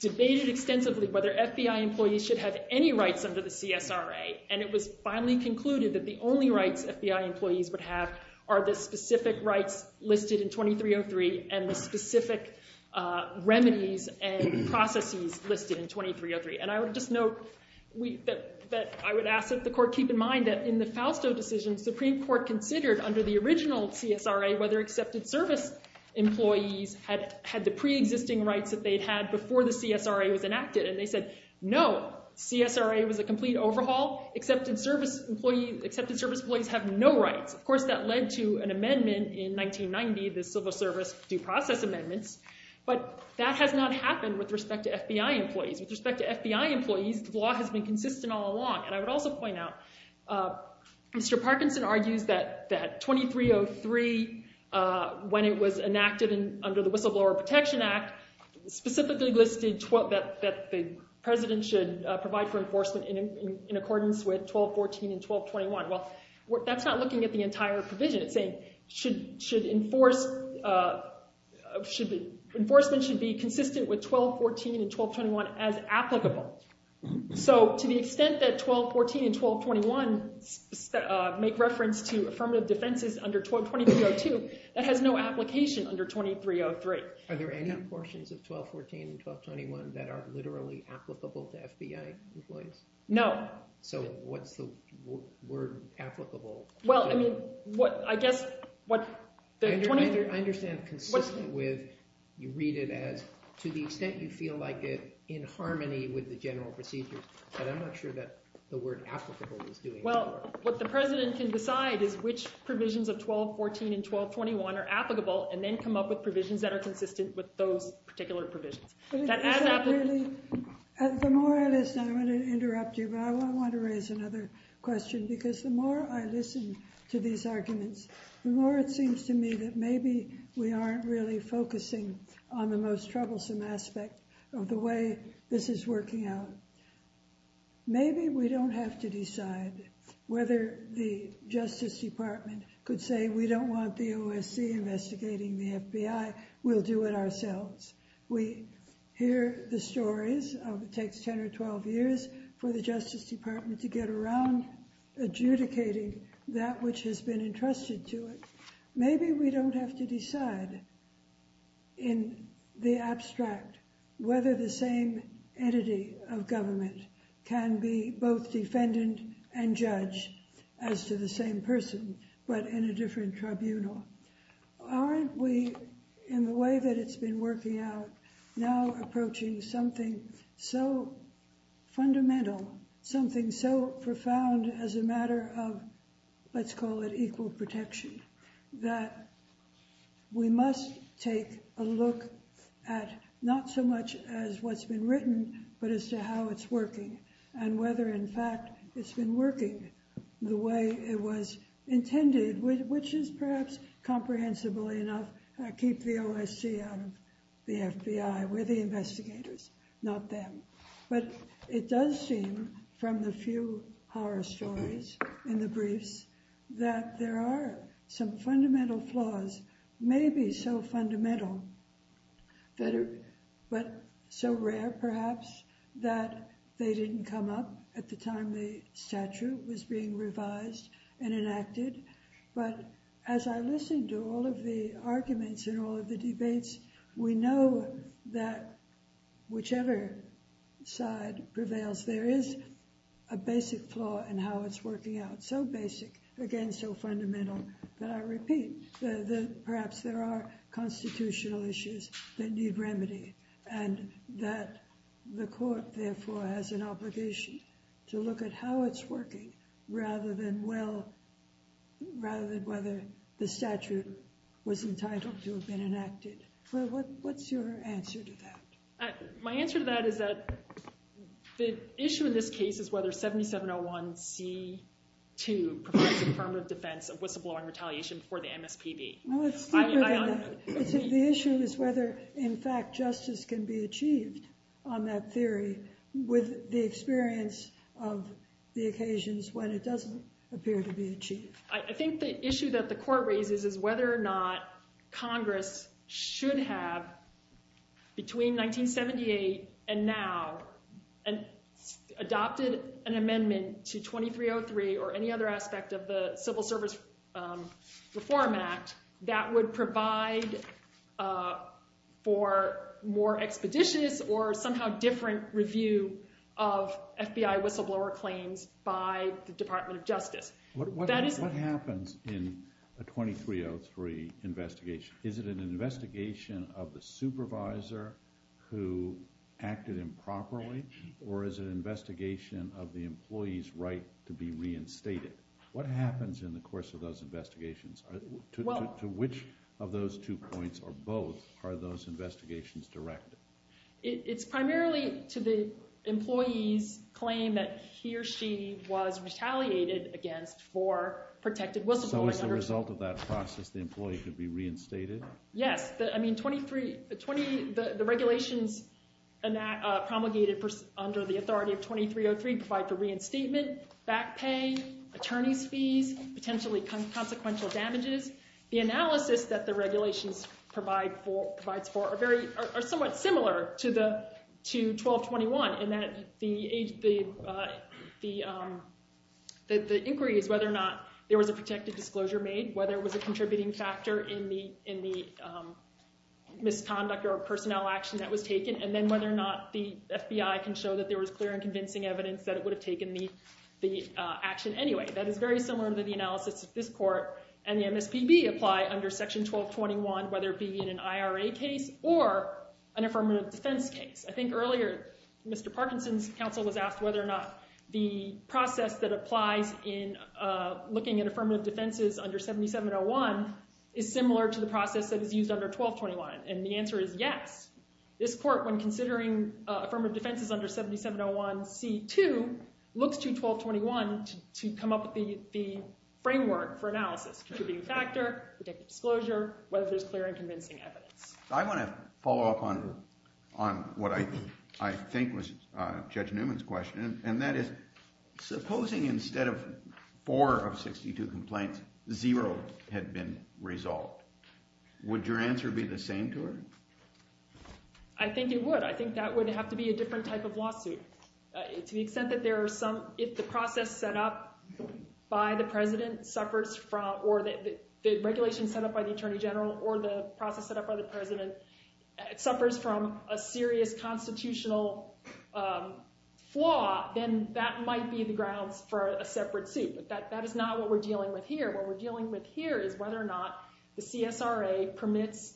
debated extensively whether FBI employees should have any rights under the CSRA. And it was finally concluded that the only rights FBI employees would have are the specific rights listed in 2303 and the specific remedies and processes listed in 2303. And I would just note that I would ask that the court keep in mind that in the Fausto decision, the Supreme Court considered under the original CSRA whether accepted service employees had the pre-existing rights that they'd had before the CSRA was enacted. And they said, no, CSRA was a complete overhaul. Accepted service employees have no rights. Of course, that led to an amendment in 1990, the Civil Service due process amendments. But that has not happened with respect to FBI employees. With respect to FBI employees, the law has been consistent all along. And I would also point out, Mr. Parkinson argues that 2303, when it was enacted under the Whistleblower Protection Act, specifically listed that the president should provide for enforcement in accordance with 1214 and 1221. Well, that's not looking at the entire provision. It's saying enforcement should be consistent with 1214 and 1221 as applicable. So to the extent that 1214 and 1221 make reference to affirmative defenses under 2302, that has no application under 2303. Are there any portions of 1214 and 1221 that are literally applicable to FBI employees? No. So what's the word applicable? Well, I mean, I guess what – I understand consistent with – you read it as to the extent you feel like it in harmony with the general procedures. But I'm not sure that the word applicable is doing the work. Well, what the president can decide is which provisions of 1214 and 1221 are applicable and then come up with provisions that are consistent with those particular provisions. But is that really – the more I listen – I'm going to interrupt you, but I want to raise another question, because the more I listen to these arguments, the more it seems to me that maybe we aren't really focusing on the most troublesome aspect of the way this is working out. Maybe we don't have to decide whether the Justice Department could say we don't want the OSC investigating the FBI. We'll do it ourselves. We hear the stories of it takes 10 or 12 years for the Justice Department to get around adjudicating that which has been entrusted to it. Maybe we don't have to decide in the abstract whether the same entity of government can be both defendant and judge, as to the same person, but in a different tribunal. Aren't we, in the way that it's been working out, now approaching something so fundamental, something so profound as a matter of, let's call it equal protection, that we must take a look at not so much as what's been written, but as to how it's working, and whether in fact it's been working the way it was intended, which is perhaps comprehensibly enough, keep the OSC out of the FBI. We're the investigators, not them. But it does seem from the few horror stories in the briefs that there are some fundamental flaws, maybe so fundamental, but so rare perhaps, that they didn't come up at the time the statute was being revised and enacted. But as I listen to all of the arguments in all of the debates, we know that whichever side prevails, there is a basic flaw in how it's working out, so basic, again, so fundamental, that I repeat, that perhaps there are constitutional issues that need remedy, and that the court, therefore, has an obligation to look at how it's working, rather than whether the statute was entitled to have been enacted. What's your answer to that? My answer to that is that the issue in this case is whether 7701C2 provides a affirmative defense of whistleblowing retaliation before the MSPB. The issue is whether, in fact, justice can be achieved on that theory with the experience of the occasions when it doesn't appear to be achieved. I think the issue that the court raises is whether or not Congress should have, between 1978 and now, adopted an amendment to 2303 or any other aspect of the Civil Service Reform Act that would provide for more expeditious or somehow different review of FBI whistleblower claims by the Department of Justice. What happens in a 2303 investigation? Is it an investigation of the supervisor who acted improperly, or is it an investigation of the employee's right to be reinstated? What happens in the course of those investigations? To which of those two points or both are those investigations directed? It's primarily to the employee's claim that he or she was retaliated against for protected whistleblowing. So as a result of that process, the employee could be reinstated? Yes. The regulations promulgated under the authority of 2303 provide for reinstatement, back pay, attorney's fees, potentially consequential damages. The analysis that the regulations provide for are somewhat similar to 1221, in that the inquiry is whether or not there was a protected disclosure made, whether it was a contributing factor in the misconduct or personnel action that was taken, and then whether or not the FBI can show that there was clear and convincing evidence that it would have taken the action anyway. That is very similar to the analysis that this court and the MSPB apply under Section 1221, whether it be in an IRA case or an affirmative defense case. I think earlier Mr. Parkinson's counsel was asked whether or not the process that applies in looking at affirmative defenses under 7701 is similar to the process that is used under 1221, and the answer is yes. This court, when considering affirmative defenses under 7701C2, looks to 1221 to come up with the framework for analysis, contributing factor, protected disclosure, whether there's clear and convincing evidence. I want to follow up on what I think was Judge Newman's question, and that is supposing instead of four of 62 complaints, zero had been resolved. Would your answer be the same to her? I think it would. I think that would have to be a different type of lawsuit. To the extent that there are some—if the process set up by the president suffers from— or the regulation set up by the attorney general or the process set up by the president suffers from a serious constitutional flaw, then that might be the grounds for a separate suit, but that is not what we're dealing with here. What we're dealing with here is whether or not the CSRA permits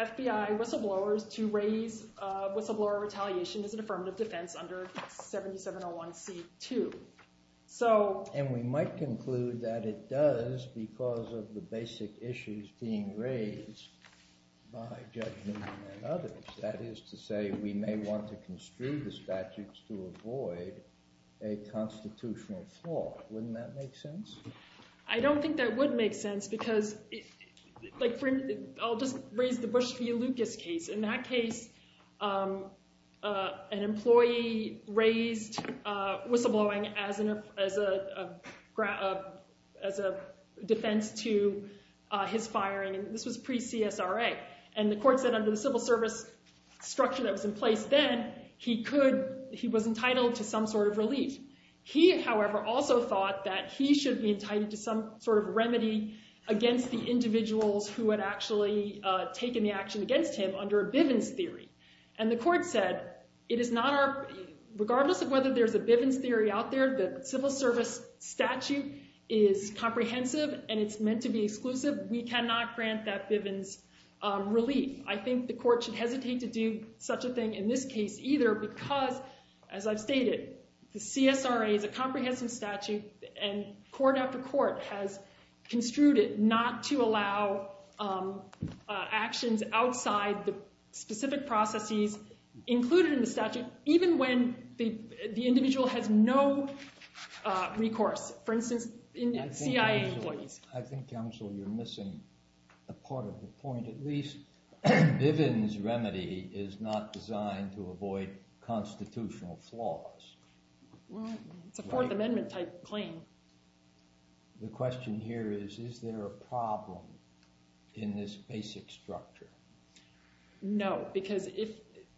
FBI whistleblowers to raise whistleblower retaliation as an affirmative defense under 7701C2. And we might conclude that it does because of the basic issues being raised by Judge Newman and others. That is to say, we may want to construe the statutes to avoid a constitutional flaw. Wouldn't that make sense? I don't think that would make sense because—I'll just raise the Bush v. Lucas case. In that case, an employee raised whistleblowing as a defense to his firing, and this was pre-CSRA. And the court said under the civil service structure that was in place then, he could—he was entitled to some sort of relief. He, however, also thought that he should be entitled to some sort of remedy against the individuals who had actually taken the action against him under a Bivens theory. And the court said it is not our—regardless of whether there's a Bivens theory out there, the civil service statute is comprehensive and it's meant to be exclusive. We cannot grant that Bivens relief. I think the court should hesitate to do such a thing in this case either because, as I've stated, the CSRA is a comprehensive statute, and court after court has construed it not to allow actions outside the specific processes included in the statute, even when the individual has no recourse. I think, counsel, you're missing a part of the point. At least Bivens remedy is not designed to avoid constitutional flaws. Well, it's a Fourth Amendment-type claim. The question here is, is there a problem in this basic structure? No, because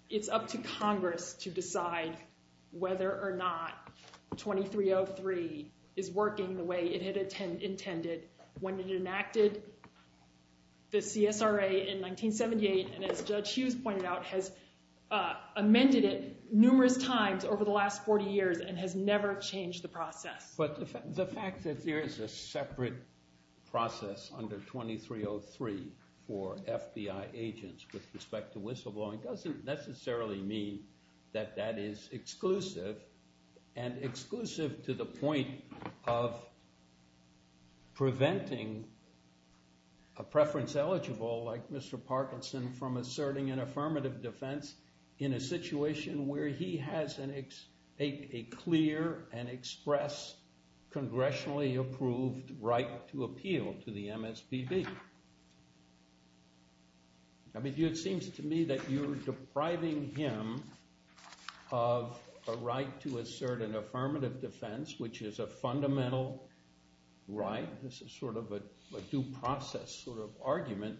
it's up to Congress to decide whether or not 2303 is working the way it had intended when it enacted the CSRA in 1978, and as Judge Hughes pointed out, has amended it numerous times over the last 40 years and has never changed the process. But the fact that there is a separate process under 2303 for FBI agents with respect to whistleblowing doesn't necessarily mean that that is exclusive, and exclusive to the point of preventing a preference-eligible like Mr. Parkinson from asserting an affirmative defense in a situation where he has a clear and express, congressionally approved right to appeal to the MSPB. It seems to me that you're depriving him of a right to assert an affirmative defense, which is a fundamental right. This is sort of a due process sort of argument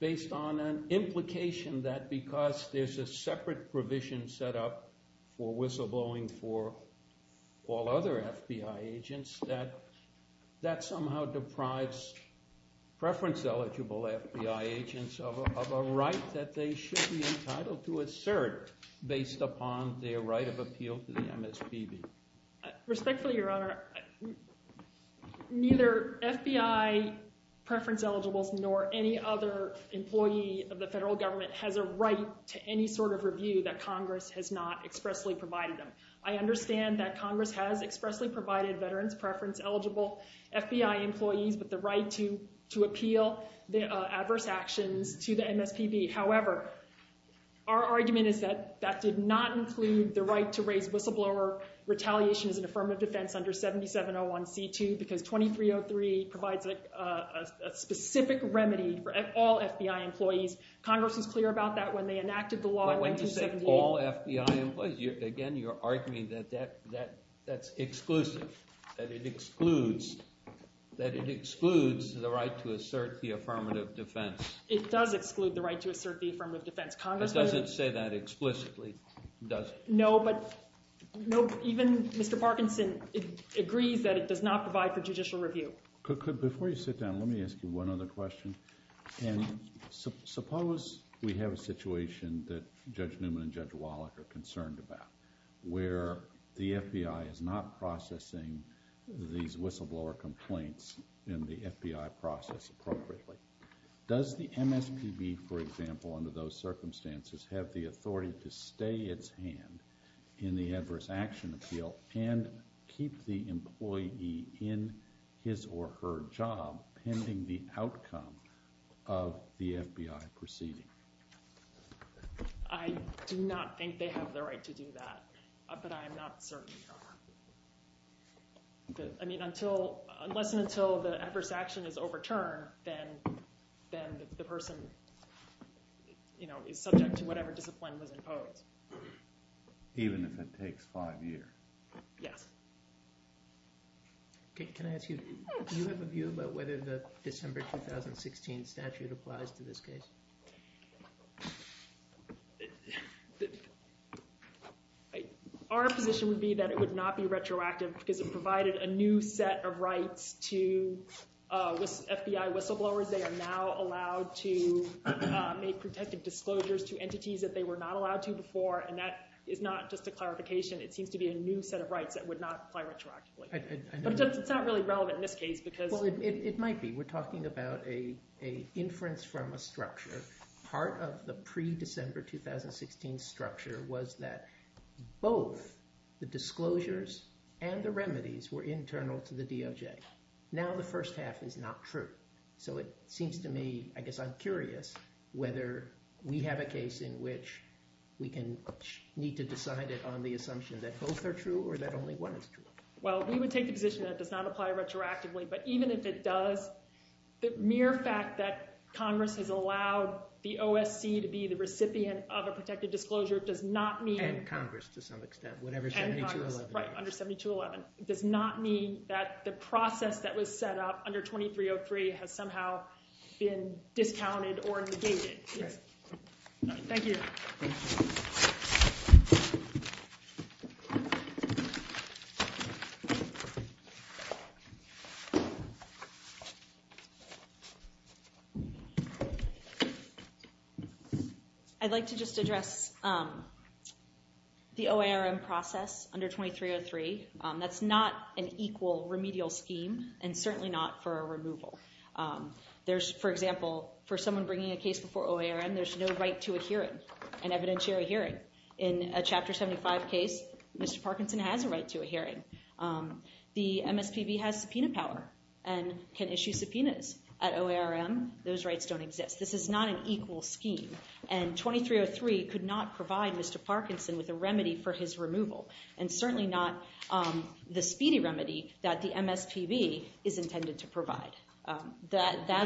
based on an implication that because there's a separate provision set up for whistleblowing for all other FBI agents, that that somehow deprives preference-eligible FBI agents of a right that they should be entitled to assert based upon their right of appeal to the MSPB. Respectfully, Your Honor, neither FBI preference-eligibles nor any other employee of the federal government has a right to any sort of review that Congress has not expressly provided them. I understand that Congress has expressly provided veterans preference-eligible FBI employees with the right to appeal adverse actions to the MSPB. However, our argument is that that did not include the right to raise whistleblower retaliation as an affirmative defense under 7701C2 because 2303 provides a specific remedy for all FBI employees. Congress was clear about that when they enacted the law in 1978. Again, you're arguing that that's exclusive, that it excludes the right to assert the affirmative defense. It does exclude the right to assert the affirmative defense. Congress doesn't say that explicitly, does it? No, but even Mr. Parkinson agrees that it does not provide for judicial review. Before you sit down, let me ask you one other question. Suppose we have a situation that Judge Newman and Judge Wallach are concerned about where the FBI is not processing these whistleblower complaints in the FBI process appropriately. Does the MSPB, for example, under those circumstances have the authority to stay its hand in the adverse action appeal and keep the employee in his or her job pending the outcome of the FBI proceeding? I do not think they have the right to do that, but I am not certain they are. I mean, unless and until the adverse action is overturned, then the person is subject to whatever discipline was imposed. Even if it takes five years? Yes. Can I ask you, do you have a view about whether the December 2016 statute applies to this case? Our position would be that it would not be retroactive because it provided a new set of rights to FBI whistleblowers. They are now allowed to make pretentious disclosures to entities that they were not allowed to before, and that is not just a clarification. It seems to be a new set of rights that would not apply retroactively. But it's not really relevant in this case because— It might be. We're talking about an inference from a structure. Part of the pre-December 2016 structure was that both the disclosures and the remedies were internal to the DOJ. Now the first half is not true. So it seems to me, I guess I'm curious, whether we have a case in which we need to decide it on the assumption that both are true or that only one is true. Well, we would take the position that it does not apply retroactively. But even if it does, the mere fact that Congress has allowed the OSC to be the recipient of a protected disclosure does not mean— And Congress to some extent, whatever 7211 is. Right, under 7211. It does not mean that the process that was set up under 2303 has somehow been discounted or negated. Thank you. I'd like to just address the OARM process under 2303. That's not an equal remedial scheme and certainly not for a removal. For example, for someone bringing a case before OARM, there's no right to a hearing, an evidentiary hearing. In a Chapter 75 case, Mr. Parkinson has a right to a hearing. The MSPB has subpoena power and can issue subpoenas. At OARM, those rights don't exist. This is not an equal scheme. And 2303 could not provide Mr. Parkinson with a remedy for his removal and certainly not the speedy remedy that the MSPB is intended to provide. What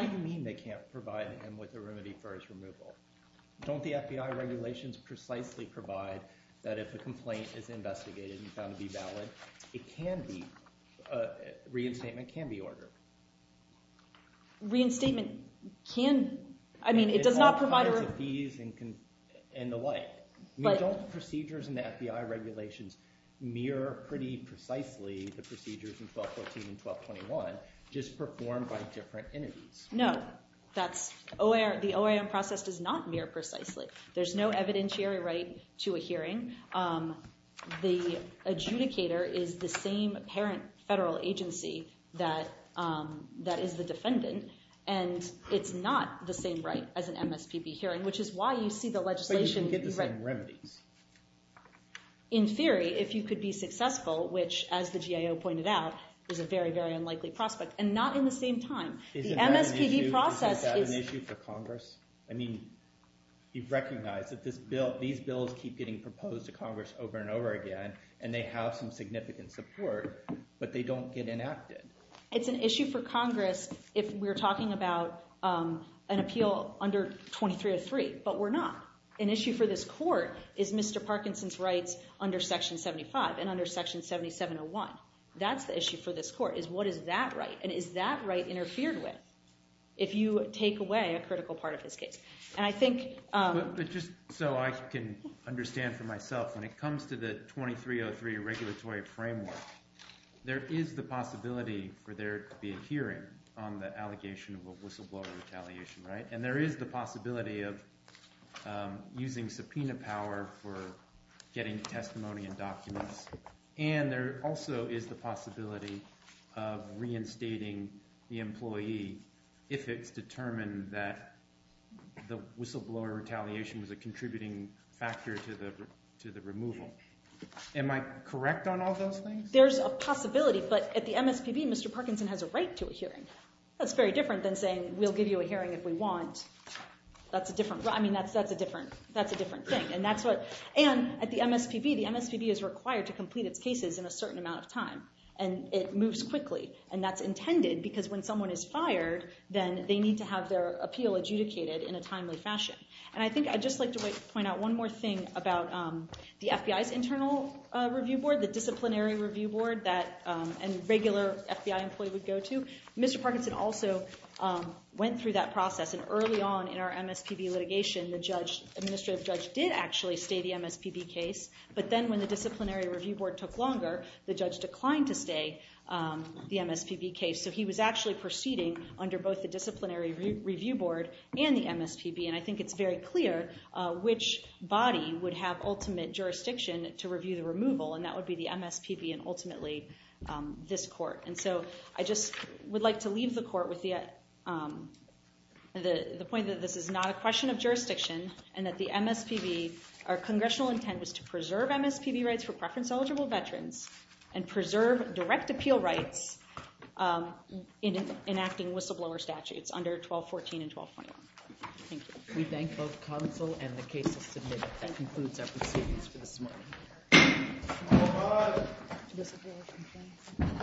do you mean they can't provide him with a remedy for his removal? Don't the FBI regulations precisely provide that if a complaint is investigated and found to be valid, it can be – reinstatement can be ordered? Reinstatement can – I mean, it does not provide – It provides the fees and the like. Don't procedures in the FBI regulations mirror pretty precisely the procedures in 1214 and 1221, just performed by different entities? No, that's – the OARM process does not mirror precisely. There's no evidentiary right to a hearing. The adjudicator is the same parent federal agency that is the defendant, and it's not the same right as an MSPB hearing, which is why you see the legislation – But you can get the same remedies. In theory, if you could be successful, which, as the GIO pointed out, is a very, very unlikely prospect, and not in the same time. The MSPB process is – Is that an issue for Congress? I mean, you've recognized that these bills keep getting proposed to Congress over and over again, and they have some significant support, but they don't get enacted. It's an issue for Congress if we're talking about an appeal under 2303, but we're not. An issue for this court is Mr. Parkinson's rights under Section 75 and under Section 7701. That's the issue for this court is what is that right, and is that right interfered with if you take away a critical part of his case? And I think – But just so I can understand for myself, when it comes to the 2303 regulatory framework, there is the possibility for there to be a hearing on the allegation of a whistleblower retaliation, right? And there is the possibility of using subpoena power for getting testimony and documents, and there also is the possibility of reinstating the employee if it's determined that the whistleblower retaliation was a contributing factor to the removal. Am I correct on all those things? There's a possibility, but at the MSPB, Mr. Parkinson has a right to a hearing. That's very different than saying, we'll give you a hearing if we want. That's a different – I mean, that's a different thing, and that's what – and at the MSPB, the MSPB is required to complete its cases in a certain amount of time, and it moves quickly. And that's intended because when someone is fired, then they need to have their appeal adjudicated in a timely fashion. And I think I'd just like to point out one more thing about the FBI's internal review board, the disciplinary review board that a regular FBI employee would go to. Mr. Parkinson also went through that process, and early on in our MSPB litigation, the judge – administrative judge did actually stay the MSPB case, but then when the disciplinary review board took longer, the judge declined to stay the MSPB case. So he was actually proceeding under both the disciplinary review board and the MSPB, and I think it's very clear which body would have ultimate jurisdiction to review the removal, and that would be the MSPB and ultimately this court. And so I just would like to leave the court with the point that this is not a question of jurisdiction and that the MSPB – our congressional intent was to preserve MSPB rights for preference-eligible veterans and preserve direct appeal rights in enacting whistleblower statutes under 1214 and 1221. Thank you. We thank both counsel and the case to submit. That concludes our proceedings for this morning.